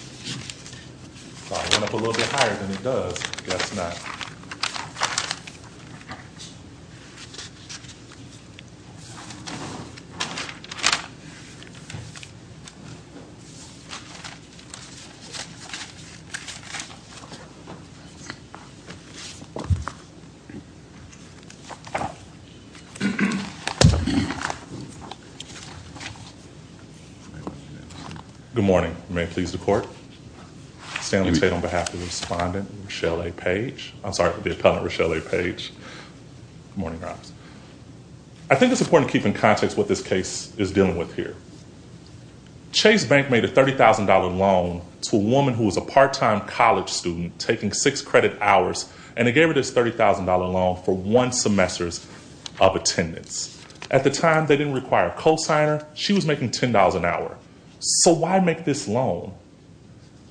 I went up a little bit higher than it does, I guess not. Good morning, may it please the court, Stanley Tate on behalf of the respondent, Rochelle A. Page. I'm sorry, the appellant, Rochelle A. Page. Good morning, Roberts. I think it's important to keep in context what this case is dealing with here. Chase Bank made a $30,000 loan to a woman who was a part-time college student, taking six credit hours, and they gave her this $30,000 loan for one semester of attendance. At the time, they didn't require a cosigner. She was making $10 an hour. So why make this loan?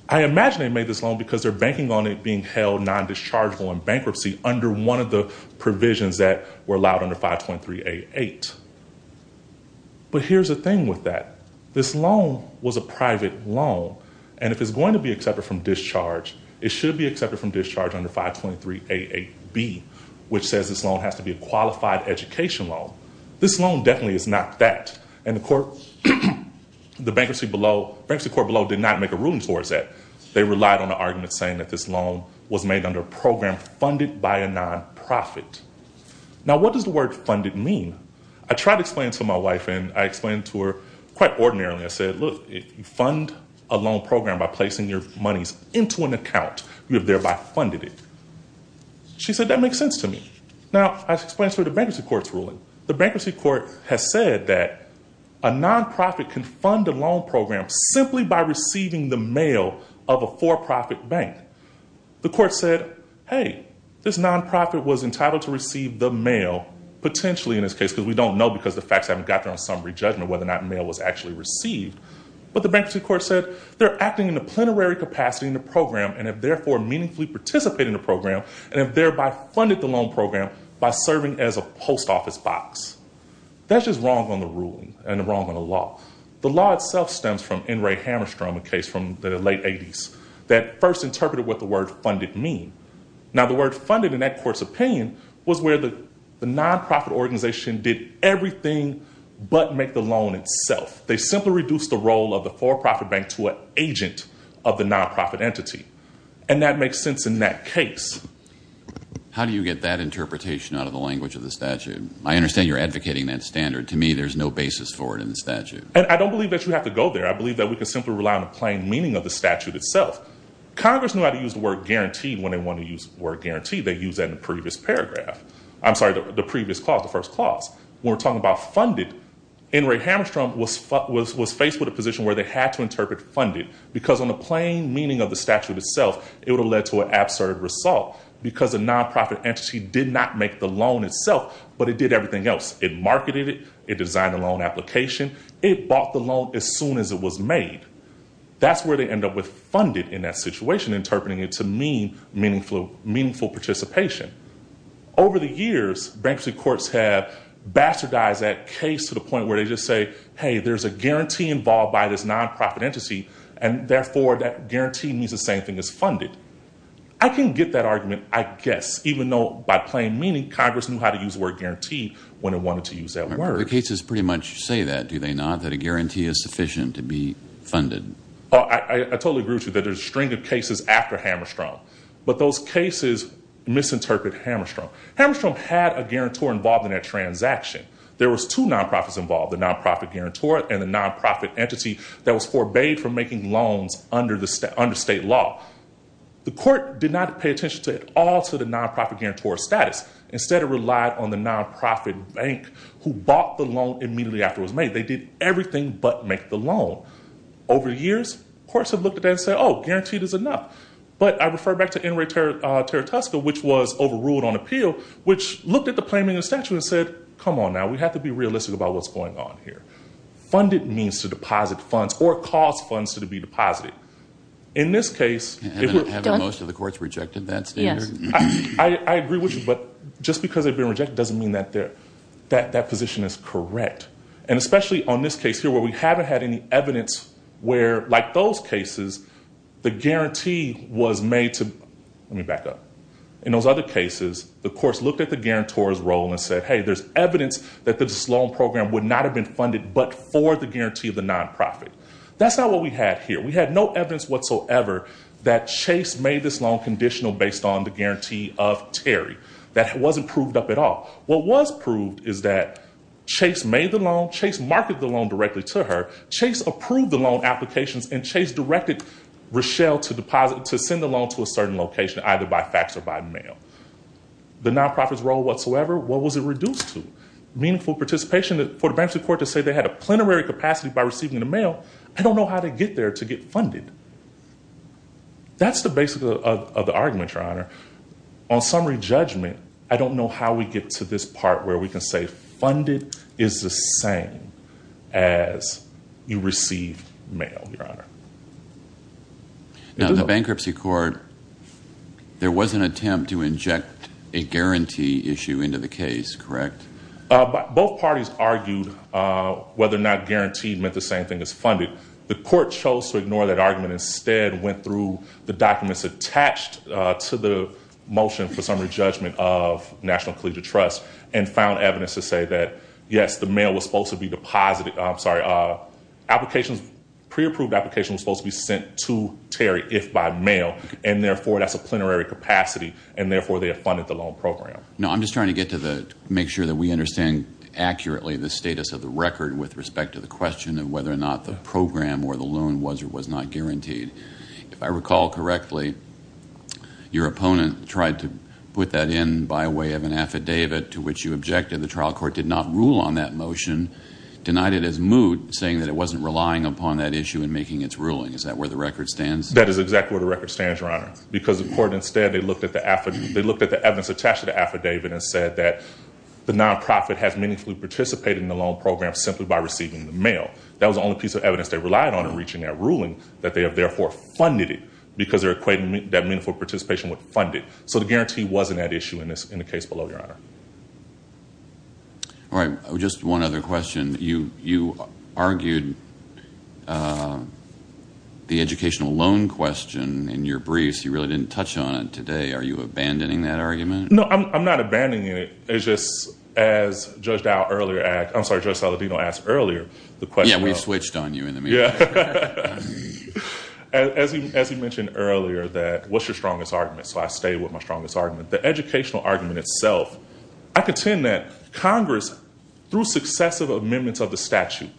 I imagine they made this loan because they're banking on it being held non-dischargeable in bankruptcy under one of the provisions that were allowed under 523A8. But here's the thing with that. This loan was a private loan, and if it's going to be accepted from discharge, it should be accepted from discharge under 523A8B, which says this loan has to be a qualified education loan. This loan definitely is not that. And the bankruptcy court below did not make a ruling towards that. They relied on an argument saying that this loan was made under a program funded by a non-profit. Now, what does the word funded mean? I tried to explain it to my wife, and I explained to her quite ordinarily. I said, look, if you fund a loan program by placing your monies into an account, you have thereby funded it. She said, that makes sense to me. Now, I explained to her the bankruptcy court's ruling. The bankruptcy court has said that a non-profit can fund a loan program simply by receiving the mail of a for-profit bank. The court said, hey, this non-profit was entitled to receive the mail, potentially in this case, because we don't know because the facts haven't got there on summary judgment whether or not mail was actually received. But the bankruptcy court said, they're acting in a plenary capacity in the program and have therefore meaningfully participated in the program and have thereby funded the loan program by serving as a post office box. That's just wrong on the ruling and wrong on the law. The law itself stems from N. Ray Hammerstrom, a case from the late 80s, that first interpreted what the word funded mean. Now, the word funded, in that court's opinion, was where the non-profit organization did everything but make the loan itself. They simply reduced the role of the for-profit bank to an agent of the non-profit entity. And that makes sense in that case. How do you get that interpretation out of the language of the statute? I understand you're advocating that standard. To me, there's no basis for it in the statute. And I don't believe that you have to go there. I believe that we can simply rely on the plain meaning of the statute itself. Congress knew how to use the word guaranteed when they wanted to use the word guaranteed. They used that in the previous paragraph. I'm sorry, the previous clause, the first clause. When we're talking about funded, N. Ray Hammerstrom was faced with a position where they had to interpret funded, because on the plain meaning of the statute itself, it would have led to an absurd result, because the non-profit entity did not make the loan itself, but it did everything else. It marketed it. It designed a loan application. It bought the loan as soon as it was made. That's where they end up with funded in that situation, interpreting it to mean meaningful participation. Over the years, bankruptcy courts have bastardized that case to the point where they just say, hey, there's a guarantee involved by this non-profit entity, and therefore that guarantee means the same thing as funded. I can get that argument, I guess, even though by plain meaning, Congress knew how to use the word guaranteed when it wanted to use that word. The cases pretty much say that, do they not, that a guarantee is sufficient to be funded? I totally agree with you that there's a string of cases after Hammerstrom. But those cases misinterpret Hammerstrom. Hammerstrom had a guarantor involved in that transaction. There was two non-profits involved, the non-profit guarantor and the non-profit entity, that was forbade from making loans under state law. The court did not pay attention at all to the non-profit guarantor's status. Instead, it relied on the non-profit bank who bought the loan immediately after it was made. They did everything but make the loan. Over the years, courts have looked at that and said, oh, guaranteed is enough. But I refer back to N. Ray Taratoska, which was overruled on appeal, which looked at the plain meaning statute and said, come on now, we have to be realistic about what's going on here. Funded means to deposit funds or cause funds to be deposited. In this case, it would- Haven't most of the courts rejected that standard? Yes. I agree with you, but just because they've been rejected doesn't mean that that position is correct. And especially on this case here where we haven't had any evidence where, like those cases, the guarantee was made to- Let me back up. In those other cases, the courts looked at the guarantor's role and said, hey, there's evidence that this loan program would not have been funded but for the guarantee of the non-profit. That's not what we had here. We had no evidence whatsoever that Chase made this loan conditional based on the guarantee of Terry. That wasn't proved up at all. What was proved is that Chase made the loan, Chase marketed the loan directly to her, Chase approved the loan applications, and Chase directed Rochelle to send the loan to a certain location, either by fax or by mail. The non-profit's role whatsoever, what was it reduced to? Meaningful participation for the bankruptcy court to say they had a plenary capacity by receiving the mail. I don't know how they get there to get funded. That's the basis of the argument, Your Honor. On summary judgment, I don't know how we get to this part where we can say funded is the same as you receive mail, Your Honor. Now, the bankruptcy court, there was an attempt to inject a guarantee issue into the case, correct? Both parties argued whether or not guaranteed meant the same thing as funded. The court chose to ignore that argument and instead went through the documents attached to the motion for summary judgment of National Collegiate Trust and found evidence to say that, yes, the mail was supposed to be deposited, I'm sorry, pre-approved applications were supposed to be sent to Terry if by mail, and therefore that's a plenary capacity, and therefore they have funded the loan program. No, I'm just trying to make sure that we understand accurately the status of the record with respect to the question of whether or not the program or the loan was or was not guaranteed. If I recall correctly, your opponent tried to put that in by way of an affidavit to which you objected. The trial court did not rule on that motion, denied it as moot, saying that it wasn't relying upon that issue in making its ruling. Is that where the record stands? That is exactly where the record stands, Your Honor, because the court instead looked at the evidence attached to the affidavit and said that the nonprofit has meaningfully participated in the loan program simply by receiving the mail. That was the only piece of evidence they relied on in reaching that ruling, that they have therefore funded it because they're equating that meaningful participation with funded. So the guarantee wasn't at issue in the case below, Your Honor. All right. Just one other question. You argued the educational loan question in your briefs. You really didn't touch on it today. Are you abandoning that argument? No, I'm not abandoning it. It's just as Judge Saladino asked earlier. Yeah, we switched on you in the meeting. As he mentioned earlier, what's your strongest argument? So I stay with my strongest argument. The educational argument itself. I contend that Congress, through successive amendments of the statute,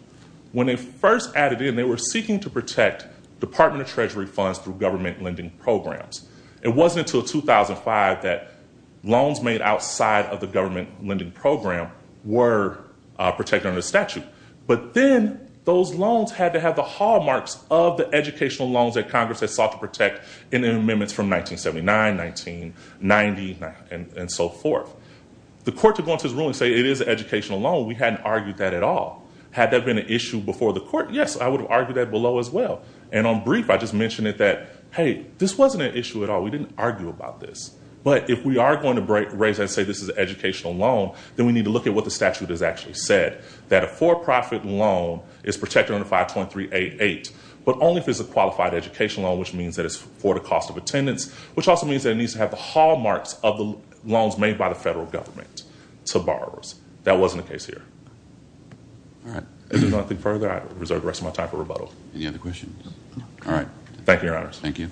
when they first added in, they were seeking to protect Department of Treasury funds through government lending programs. It wasn't until 2005 that loans made outside of the government lending program were protected under the statute. But then those loans had to have the hallmarks of the educational loans that Congress had sought to protect in the amendments from 1979, 1990, and so forth. The court could go into his room and say it is an educational loan. We hadn't argued that at all. Had that been an issue before the court, yes, I would have argued that below as well. And on brief, I just mentioned it that, hey, this wasn't an issue at all. We didn't argue about this. But if we are going to raise it and say this is an educational loan, then we need to look at what the statute has actually said. That a for-profit loan is protected under 523.88, but only if it's a qualified educational loan, which means that it's for the cost of attendance, which also means that it needs to have the hallmarks of the loans made by the federal government to borrowers. That wasn't the case here. If there's nothing further, I reserve the rest of my time for rebuttal. Any other questions? All right. Thank you, Your Honors. Thank you.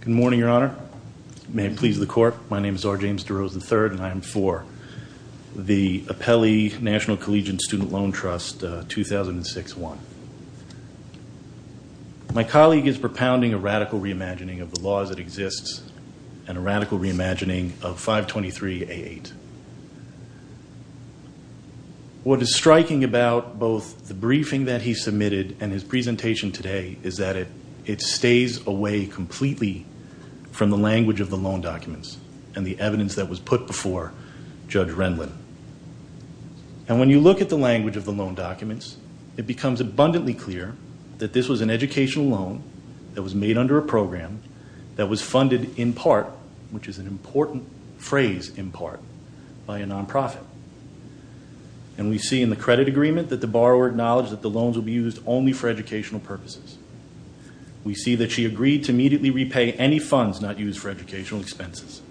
Good morning, Your Honor. May it please the court. My name is R. James DeRose III, and I am for the Apelli National Collegiate Student Loan Trust 2006-1. My colleague is propounding a radical reimagining of the laws that exist and a radical reimagining of 523.88. What is striking about both the briefing that he submitted and his presentation today is that it stays away completely from the language of the loan documents and the evidence that was put before Judge Rendlin. And when you look at the language of the loan documents, it becomes abundantly clear that this was an educational loan that was made under a program that was funded in part, which is an important phrase, in part, by a nonprofit. And we see in the credit agreement that the borrower acknowledged that the loans would be used only for educational purposes. We see that she agreed to immediately repay any funds not used for educational expenses.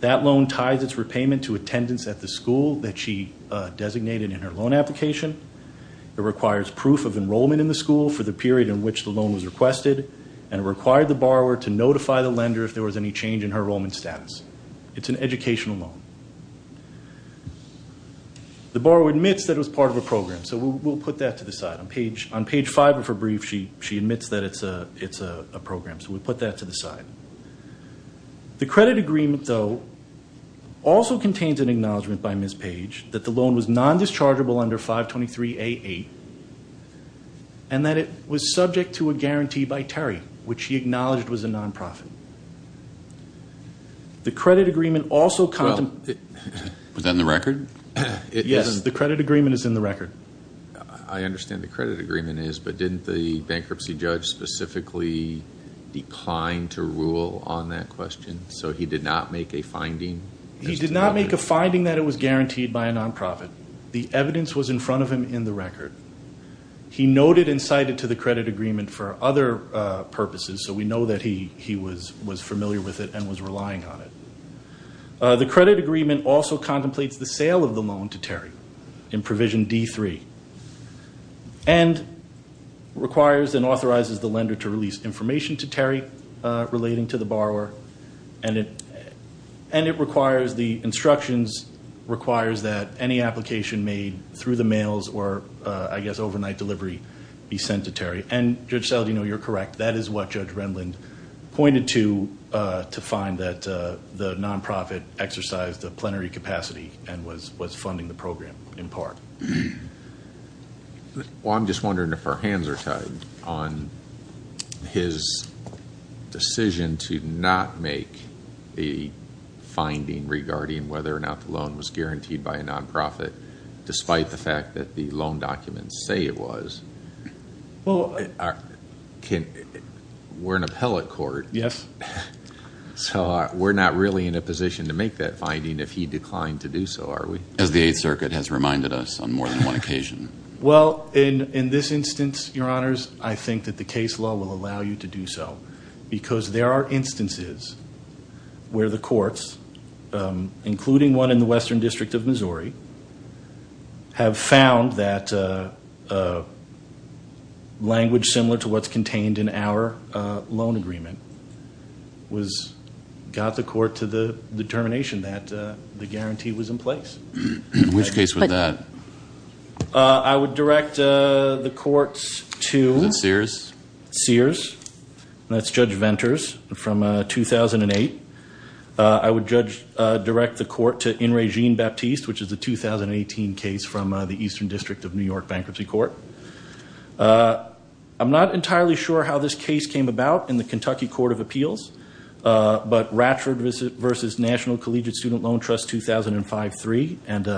That loan ties its repayment to attendance at the school that she designated in her loan application. It requires proof of enrollment in the school for the period in which the loan was requested, and it required the borrower to notify the lender if there was any change in her enrollment status. It's an educational loan. The borrower admits that it was part of a program, so we'll put that to the side. On page 5 of her brief, she admits that it's a program, so we'll put that to the side. The credit agreement, though, also contains an acknowledgment by Ms. Page that the loan was non-dischargeable under 523A-8 and that it was subject to a guarantee by Terry, which she acknowledged was a nonprofit. The credit agreement also contemplates... Was that in the record? I understand the credit agreement is, but didn't the bankruptcy judge specifically decline to rule on that question, so he did not make a finding? He did not make a finding that it was guaranteed by a nonprofit. The evidence was in front of him in the record. He noted and cited to the credit agreement for other purposes, so we know that he was familiar with it and was relying on it. The credit agreement also contemplates the sale of the loan to Terry in Provision D-3 and requires and authorizes the lender to release information to Terry relating to the borrower, and the instructions requires that any application made through the mails or, I guess, overnight delivery be sent to Terry. And, Judge Saldino, you're correct. That is what Judge Renlund pointed to to find that the nonprofit exercised a plenary capacity and was funding the program in part. Well, I'm just wondering if our hands are tied on his decision to not make a finding regarding whether or not the loan was guaranteed by a nonprofit, despite the fact that the loan documents say it was. Well, we're an appellate court. Yes. So we're not really in a position to make that finding if he declined to do so, are we? As the Eighth Circuit has reminded us on more than one occasion. Well, in this instance, Your Honors, I think that the case law will allow you to do so because there are instances where the courts, including one in the Western District of Missouri, have found that language similar to what's contained in our loan agreement got the court to the determination that the guarantee was in place. Which case was that? I would direct the courts to- Was it Sears? It was Sears. That's Judge Venters from 2008. I would direct the court to In Re Jean Baptiste, which is a 2018 case from the Eastern District of New York Bankruptcy Court. I'm not entirely sure how this case came about in the Kentucky Court of Appeals, but Ratchford v. National Collegiate Student Loan Trust, 2005-3. And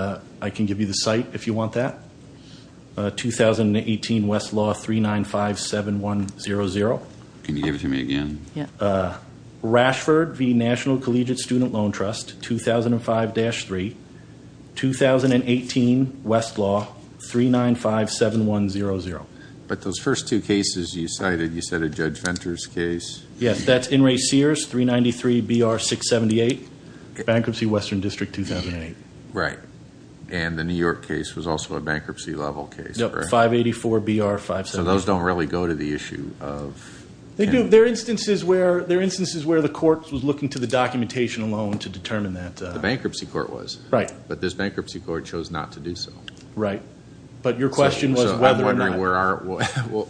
I can give you the site if you want that. 2018 Westlaw 3957100. Can you give it to me again? Yeah. Ratchford v. National Collegiate Student Loan Trust, 2005-3. 2018 Westlaw 3957100. But those first two cases you cited, you said a Judge Venters case. Yes, that's In Re Sears 393BR678, Bankruptcy Western District 2008. Right. And the New York case was also a bankruptcy level case. Yep, 584BR578. So those don't really go to the issue of- They do. They're instances where the court was looking to the documentation alone to determine that. The bankruptcy court was. Right. But this bankruptcy court chose not to do so. Right. But your question was whether or not- So I'm wondering where our-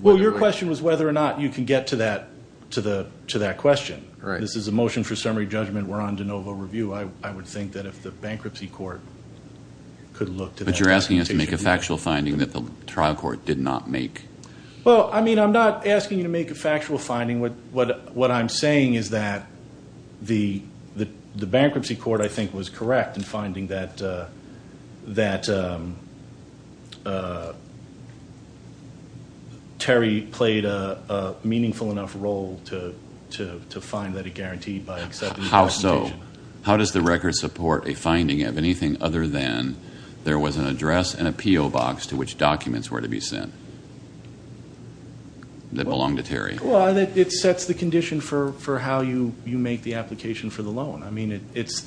Well, your question was whether or not you can get to that question. Right. This is a motion for summary judgment. We're on de novo review. I would think that if the bankruptcy court could look to that documentation- But you're asking us to make a factual finding that the trial court did not make. Well, I mean I'm not asking you to make a factual finding. What I'm saying is that the bankruptcy court, I think, was correct in finding that Terry played a meaningful enough role to find that he guaranteed by accepting the documentation. How so? How does the record support a finding of anything other than there was an address and a PO box to which documents were to be sent that belonged to Terry? Well, it sets the condition for how you make the application for the loan. I mean it is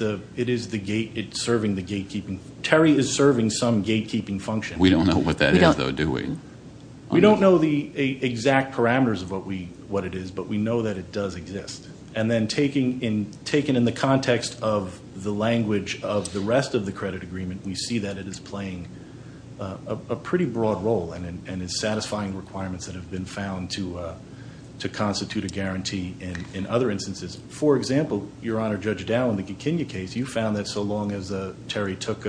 serving the gatekeeping. Terry is serving some gatekeeping function. We don't know what that is, though, do we? We don't know the exact parameters of what it is, but we know that it does exist. And then taken in the context of the language of the rest of the credit agreement, we see that it is playing a pretty broad role and is satisfying requirements that have been found to constitute a guarantee in other instances. For example, Your Honor, Judge Dowd, in the Kikinia case, you found that so long as Terry took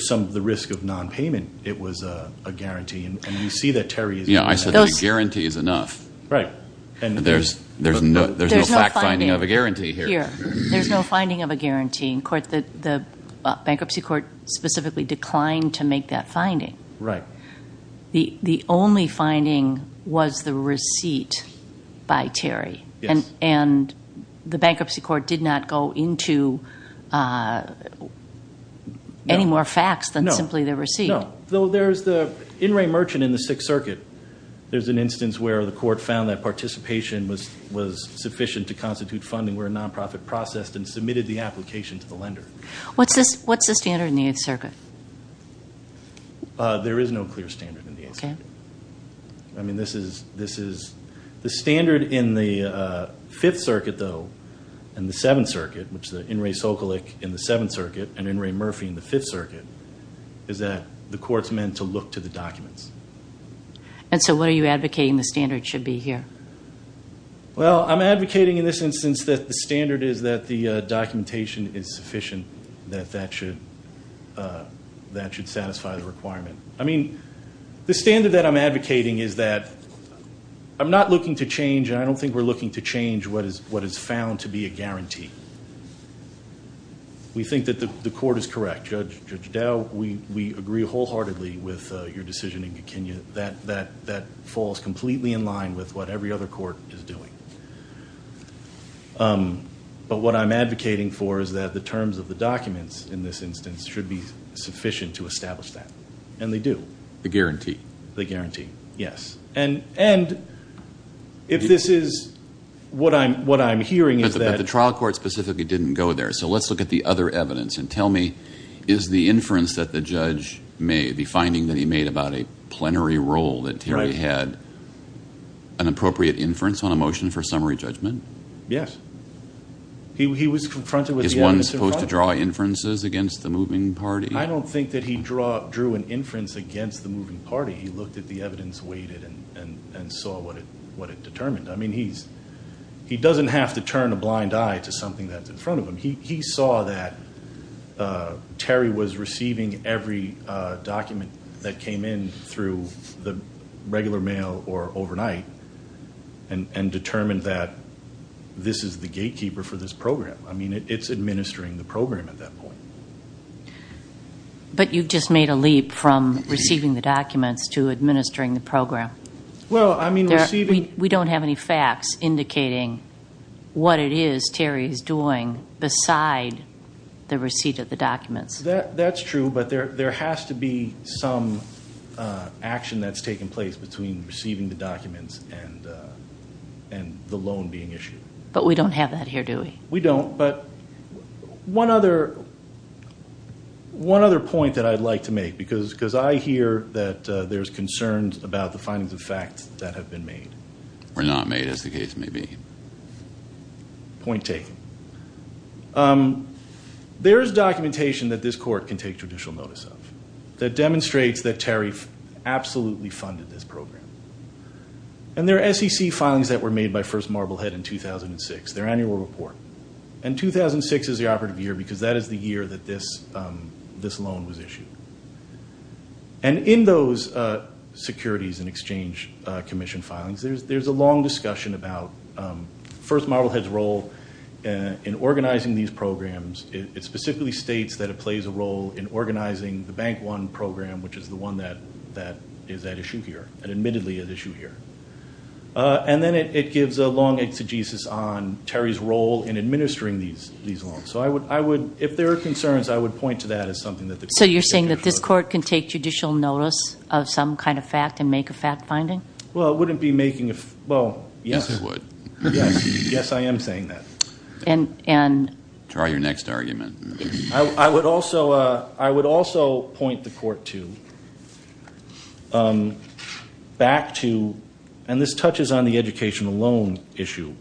some of the risk of nonpayment, it was a guarantee. And we see that Terry is- Yeah, I said that a guarantee is enough. Right. There's no fact finding of a guarantee here. There's no finding of a guarantee. In court, the bankruptcy court specifically declined to make that finding. Right. The only finding was the receipt by Terry. Yes. And the bankruptcy court did not go into any more facts than simply the receipt. No. Though there's the In re Merchant in the Sixth Circuit. There's an instance where the court found that participation was sufficient to constitute funding where a nonprofit processed and submitted the application to the lender. What's the standard in the Eighth Circuit? There is no clear standard in the Eighth Circuit. Okay. I mean, this is- The standard in the Fifth Circuit, though, and the Seventh Circuit, which the In re Sokolik in the Seventh Circuit and In re Murphy in the Fifth Circuit, is that the court's meant to look to the documents. And so what are you advocating the standard should be here? Well, I'm advocating in this instance that the standard is that the documentation is sufficient, that that should satisfy the requirement. I mean, the standard that I'm advocating is that I'm not looking to change, and I don't think we're looking to change what is found to be a guarantee. We think that the court is correct. Judge Dow, we agree wholeheartedly with your decision in Kenya that that falls completely in line with what every other court is doing. But what I'm advocating for is that the terms of the documents in this instance should be sufficient to establish that. And they do. The guarantee. The guarantee, yes. And if this is what I'm hearing is that- But the trial court specifically didn't go there. So let's look at the other evidence. And tell me, is the inference that the judge made, the finding that he made about a plenary role that Terry had, an appropriate inference on a motion for summary judgment? Yes. He was confronted with- Is one supposed to draw inferences against the moving party? I don't think that he drew an inference against the moving party. He looked at the evidence weighted and saw what it determined. I mean, he doesn't have to turn a blind eye to something that's in front of him. He saw that Terry was receiving every document that came in through the regular mail or overnight and determined that this is the gatekeeper for this program. I mean, it's administering the program at that point. But you've just made a leap from receiving the documents to administering the program. Well, I mean, receiving- The receipt of the documents. That's true, but there has to be some action that's taken place between receiving the documents and the loan being issued. But we don't have that here, do we? We don't. But one other point that I'd like to make, because I hear that there's concerns about the findings of fact that have been made. Were not made, as the case may be. Point taken. There is documentation that this court can take judicial notice of that demonstrates that Terry absolutely funded this program. And there are SEC filings that were made by First Marblehead in 2006, their annual report. And 2006 is the operative year because that is the year that this loan was issued. And in those securities and exchange commission filings, there's a long discussion about First Marblehead's role in organizing these programs. It specifically states that it plays a role in organizing the Bank One program, which is the one that is at issue here, and admittedly at issue here. And then it gives a long exegesis on Terry's role in administering these loans. So I would, if there are concerns, I would point to that as something that- So you're saying that this court can take judicial notice of some kind of fact and make a fact finding? Well, it wouldn't be making a- well, yes. Yes, it would. Yes. Yes, I am saying that. And- Draw your next argument. I would also point the court to- back to- and this touches on the educational loan issue.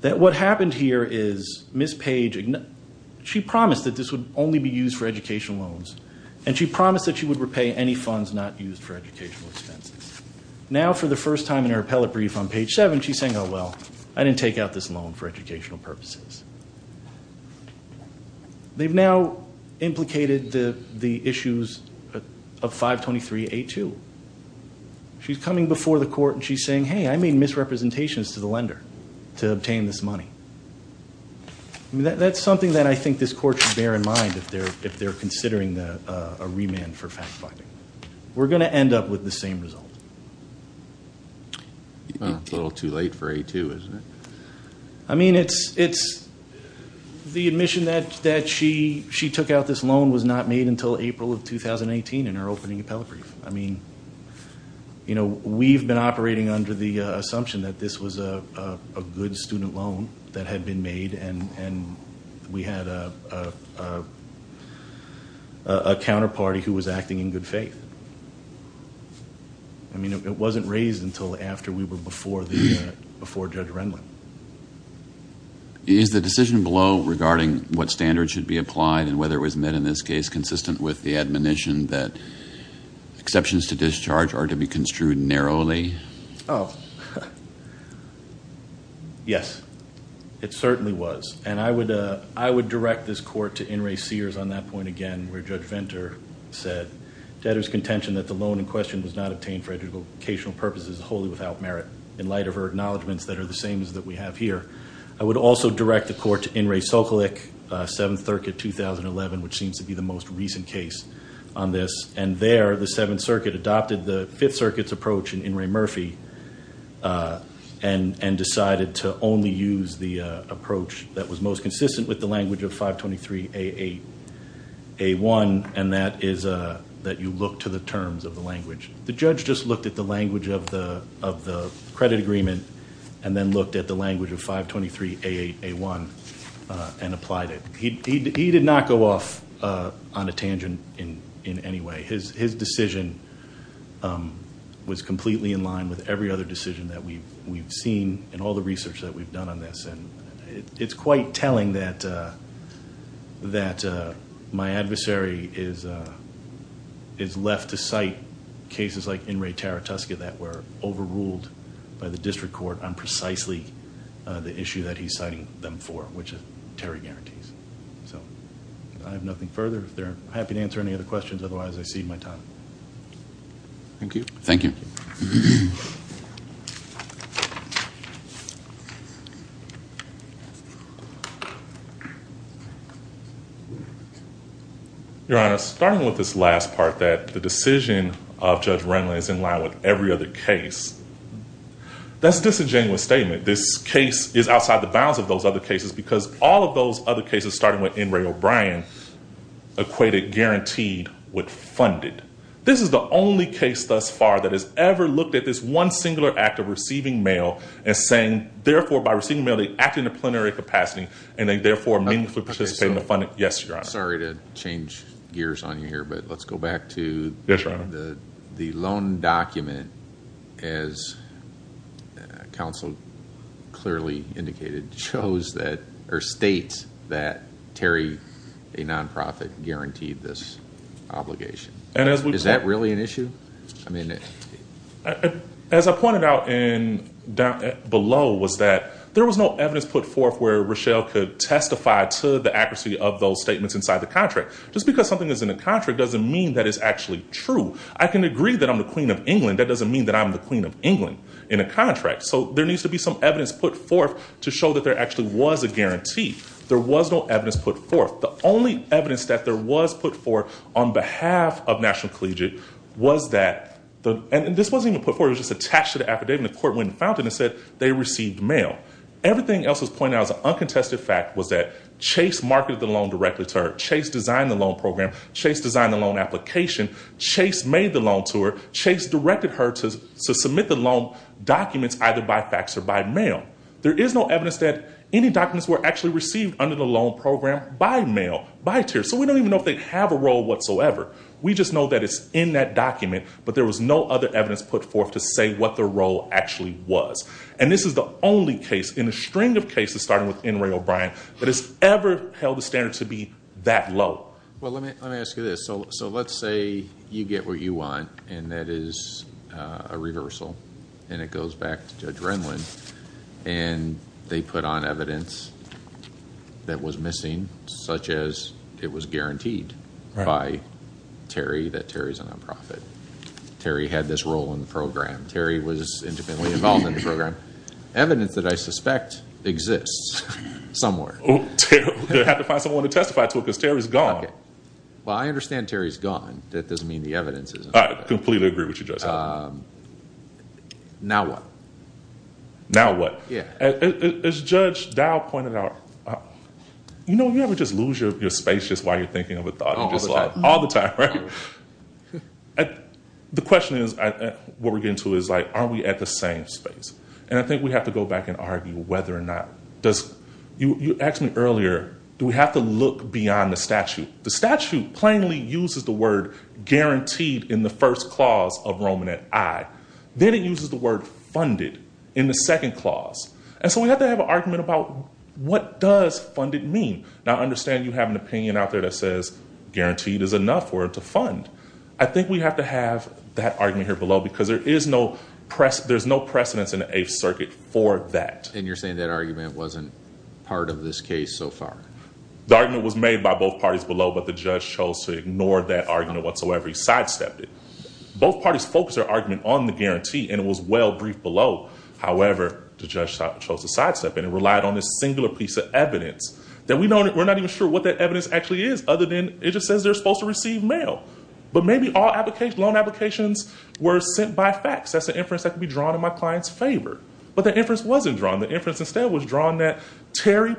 That what happened here is Ms. Page- she promised that this would only be used for educational loans. And she promised that she would repay any funds not used for educational expenses. Now, for the first time in her appellate brief on page seven, she's saying, oh, well, I didn't take out this loan for educational purposes. They've now implicated the issues of 523A2. She's coming before the court and she's saying, hey, I made misrepresentations to the lender to obtain this money. That's something that I think this court should bear in mind if they're considering a remand for fact finding. We're going to end up with the same result. A little too late for A2, isn't it? I mean, it's- the admission that she took out this loan was not made until April of 2018 in her opening appellate brief. I mean, you know, we've been operating under the assumption that this was a good student loan that had been made and we had a counterparty who was acting in good faith. I mean, it wasn't raised until after we were before Judge Renlund. Is the decision below regarding what standards should be applied and whether it was met in this case consistent with the admonition that exceptions to discharge are to be construed narrowly? Oh. Yes. It certainly was. And I would direct this court to In re Sears on that point again where Judge Venter said, to utter his contention that the loan in question was not obtained for educational purposes wholly without merit, in light of her acknowledgments that are the same as that we have here. I would also direct the court to In re Sokolick, 7th Circuit, 2011, which seems to be the most recent case on this. And there, the 7th Circuit adopted the 5th Circuit's approach in Ray Murphy and decided to only use the approach that was most consistent with the language of 523 A8 A1, and that is that you look to the terms of the language. The judge just looked at the language of the credit agreement and then looked at the language of 523 A8 A1 and applied it. He did not go off on a tangent in any way. His decision was completely in line with every other decision that we've seen in all the research that we've done on this. And it's quite telling that my adversary is left to cite cases like In re Taratusca that were overruled by the district court on precisely the issue that he's citing them for, which Terry guarantees. So I have nothing further. If they're happy to answer any other questions, otherwise I cede my time. Thank you. Thank you. Your Honor, starting with this last part, that the decision of Judge Renland is in line with every other case. That's just a genuine statement. This case is outside the bounds of those other cases because all of those other cases, starting with In re O'Brien, equated guaranteed with funded. This is the only case thus far that has ever looked at this one singular act of receiving mail and saying, therefore, by receiving mail, they act in a plenary capacity. And they, therefore, meaningfully participate in the funding. Yes, Your Honor. Sorry to change gears on you here, but let's go back to the loan document. As counsel clearly indicated, shows that or states that Terry, a nonprofit, guaranteed this obligation. Is that really an issue? As I pointed out below was that there was no evidence put forth where Rochelle could testify to the accuracy of those statements inside the contract. Just because something is in a contract doesn't mean that it's actually true. I can agree that I'm the queen of England. That doesn't mean that I'm the queen of England in a contract. So there needs to be some evidence put forth to show that there actually was a guarantee. There was no evidence put forth. The only evidence that there was put forth on behalf of National Collegiate was that, and this wasn't even put forth. It was just attached to the affidavit. The court went and found it and said they received mail. Everything else was pointed out as an uncontested fact was that Chase marketed the loan directly to her. Chase designed the loan program. Chase designed the loan application. Chase made the loan to her. Chase directed her to submit the loan documents either by fax or by mail. There is no evidence that any documents were actually received under the loan program by mail, by tier. So we don't even know if they have a role whatsoever. We just know that it's in that document, but there was no other evidence put forth to say what the role actually was. And this is the only case in a string of cases, starting with N. Ray O'Brien, that has ever held the standard to be that low. Well, let me ask you this. So let's say you get what you want, and that is a reversal, and it goes back to Judge Renlund, and they put on evidence that was missing, such as it was guaranteed by Terry that Terry's a non-profit. Terry had this role in the program. Terry was independently involved in the program. Evidence that I suspect exists somewhere. They'll have to find someone to testify to it because Terry's gone. Okay. Well, I understand Terry's gone. That doesn't mean the evidence isn't there. I completely agree with you, Judge. Now what? Now what? Yeah. As Judge Dowd pointed out, you know, you never just lose your space just while you're thinking of a thought. All the time. All the time, right? The question is, what we're getting to is, like, are we at the same space? And I think we have to go back and argue whether or not, you asked me earlier, do we have to look beyond the statute? The statute plainly uses the word guaranteed in the first clause of Roman at I. Then it uses the word funded in the second clause. And so we have to have an argument about what does funded mean? Now I understand you have an opinion out there that says guaranteed is enough for it to fund. I think we have to have that argument here below because there is no precedence in the Eighth Circuit for that. And you're saying that argument wasn't part of this case so far? The argument was made by both parties below, but the judge chose to ignore that argument whatsoever. He sidestepped it. Both parties focused their argument on the guarantee, and it was well briefed below. However, the judge chose to sidestep it and relied on this singular piece of evidence that we're not even sure what that evidence actually is other than it just says they're supposed to receive mail. But maybe all loan applications were sent by fax. That's an inference that could be drawn in my client's favor. But the inference wasn't drawn. The inference instead was drawn that Terry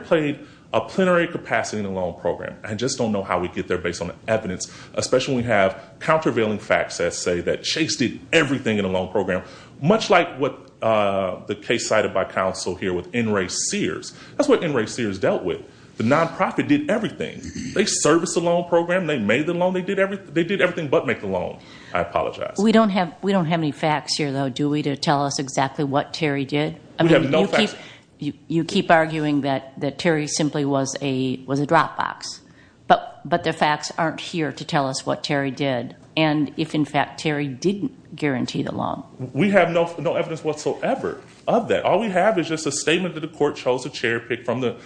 played a plenary capacity in a loan program. I just don't know how we get there based on the evidence, especially when we have countervailing facts that say that Chase did everything in a loan program, much like what the case cited by counsel here with N. Ray Sears. That's what N. Ray Sears dealt with. The nonprofit did everything. They serviced a loan program. They made the loan. They did everything but make the loan. I apologize. We don't have any facts here, though, do we, to tell us exactly what Terry did? We have no facts. You keep arguing that Terry simply was a drop box, but the facts aren't here to tell us what Terry did and if, in fact, Terry didn't guarantee the loan. We have no evidence whatsoever of that. All we have is just a statement that the court chose to cherry pick from the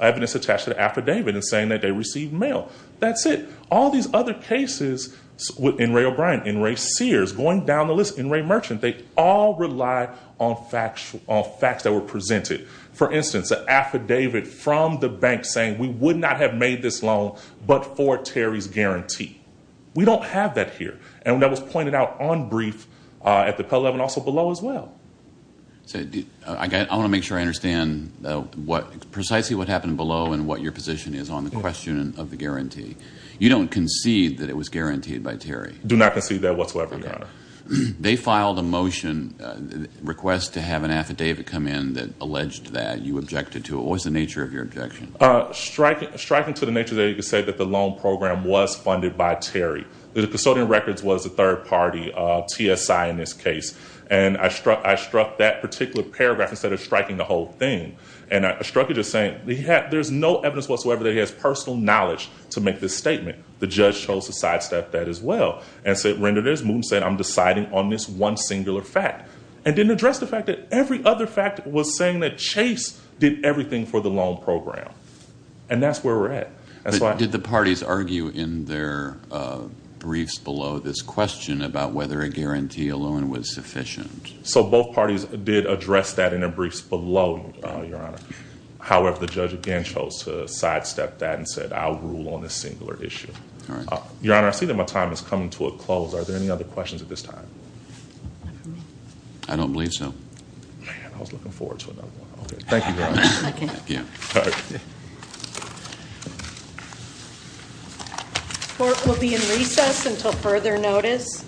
evidence attached to the affidavit and saying that they received mail. That's it. All these other cases with N. Ray O'Brien, N. Ray Sears, going down the list, N. Ray Merchant, they all rely on facts that were presented. For instance, an affidavit from the bank saying we would not have made this loan but for Terry's guarantee. We don't have that here. And that was pointed out on brief at the Pell Level and also below as well. I want to make sure I understand precisely what happened below and what your position is on the question of the guarantee. You don't concede that it was guaranteed by Terry. Do not concede that whatsoever, Your Honor. They filed a motion request to have an affidavit come in that alleged that you objected to it. What was the nature of your objection? Striking to the nature there, you could say that the loan program was funded by Terry. The custodian records was a third party, TSI in this case. And I struck that particular paragraph instead of striking the whole thing. And I struck it just saying there's no evidence whatsoever that he has personal knowledge to make this statement. The judge chose to sidestep that as well and said, Render, there's moot in saying I'm deciding on this one singular fact. And didn't address the fact that every other fact was saying that Chase did everything for the loan program. And that's where we're at. Did the parties argue in their briefs below this question about whether a guarantee alone was sufficient? So both parties did address that in their briefs below, Your Honor. However, the judge again chose to sidestep that and said I'll rule on this singular issue. Your Honor, I see that my time is coming to a close. Are there any other questions at this time? I don't believe so. Thank you, Your Honor. Thank you. Court will be in recess until further notice.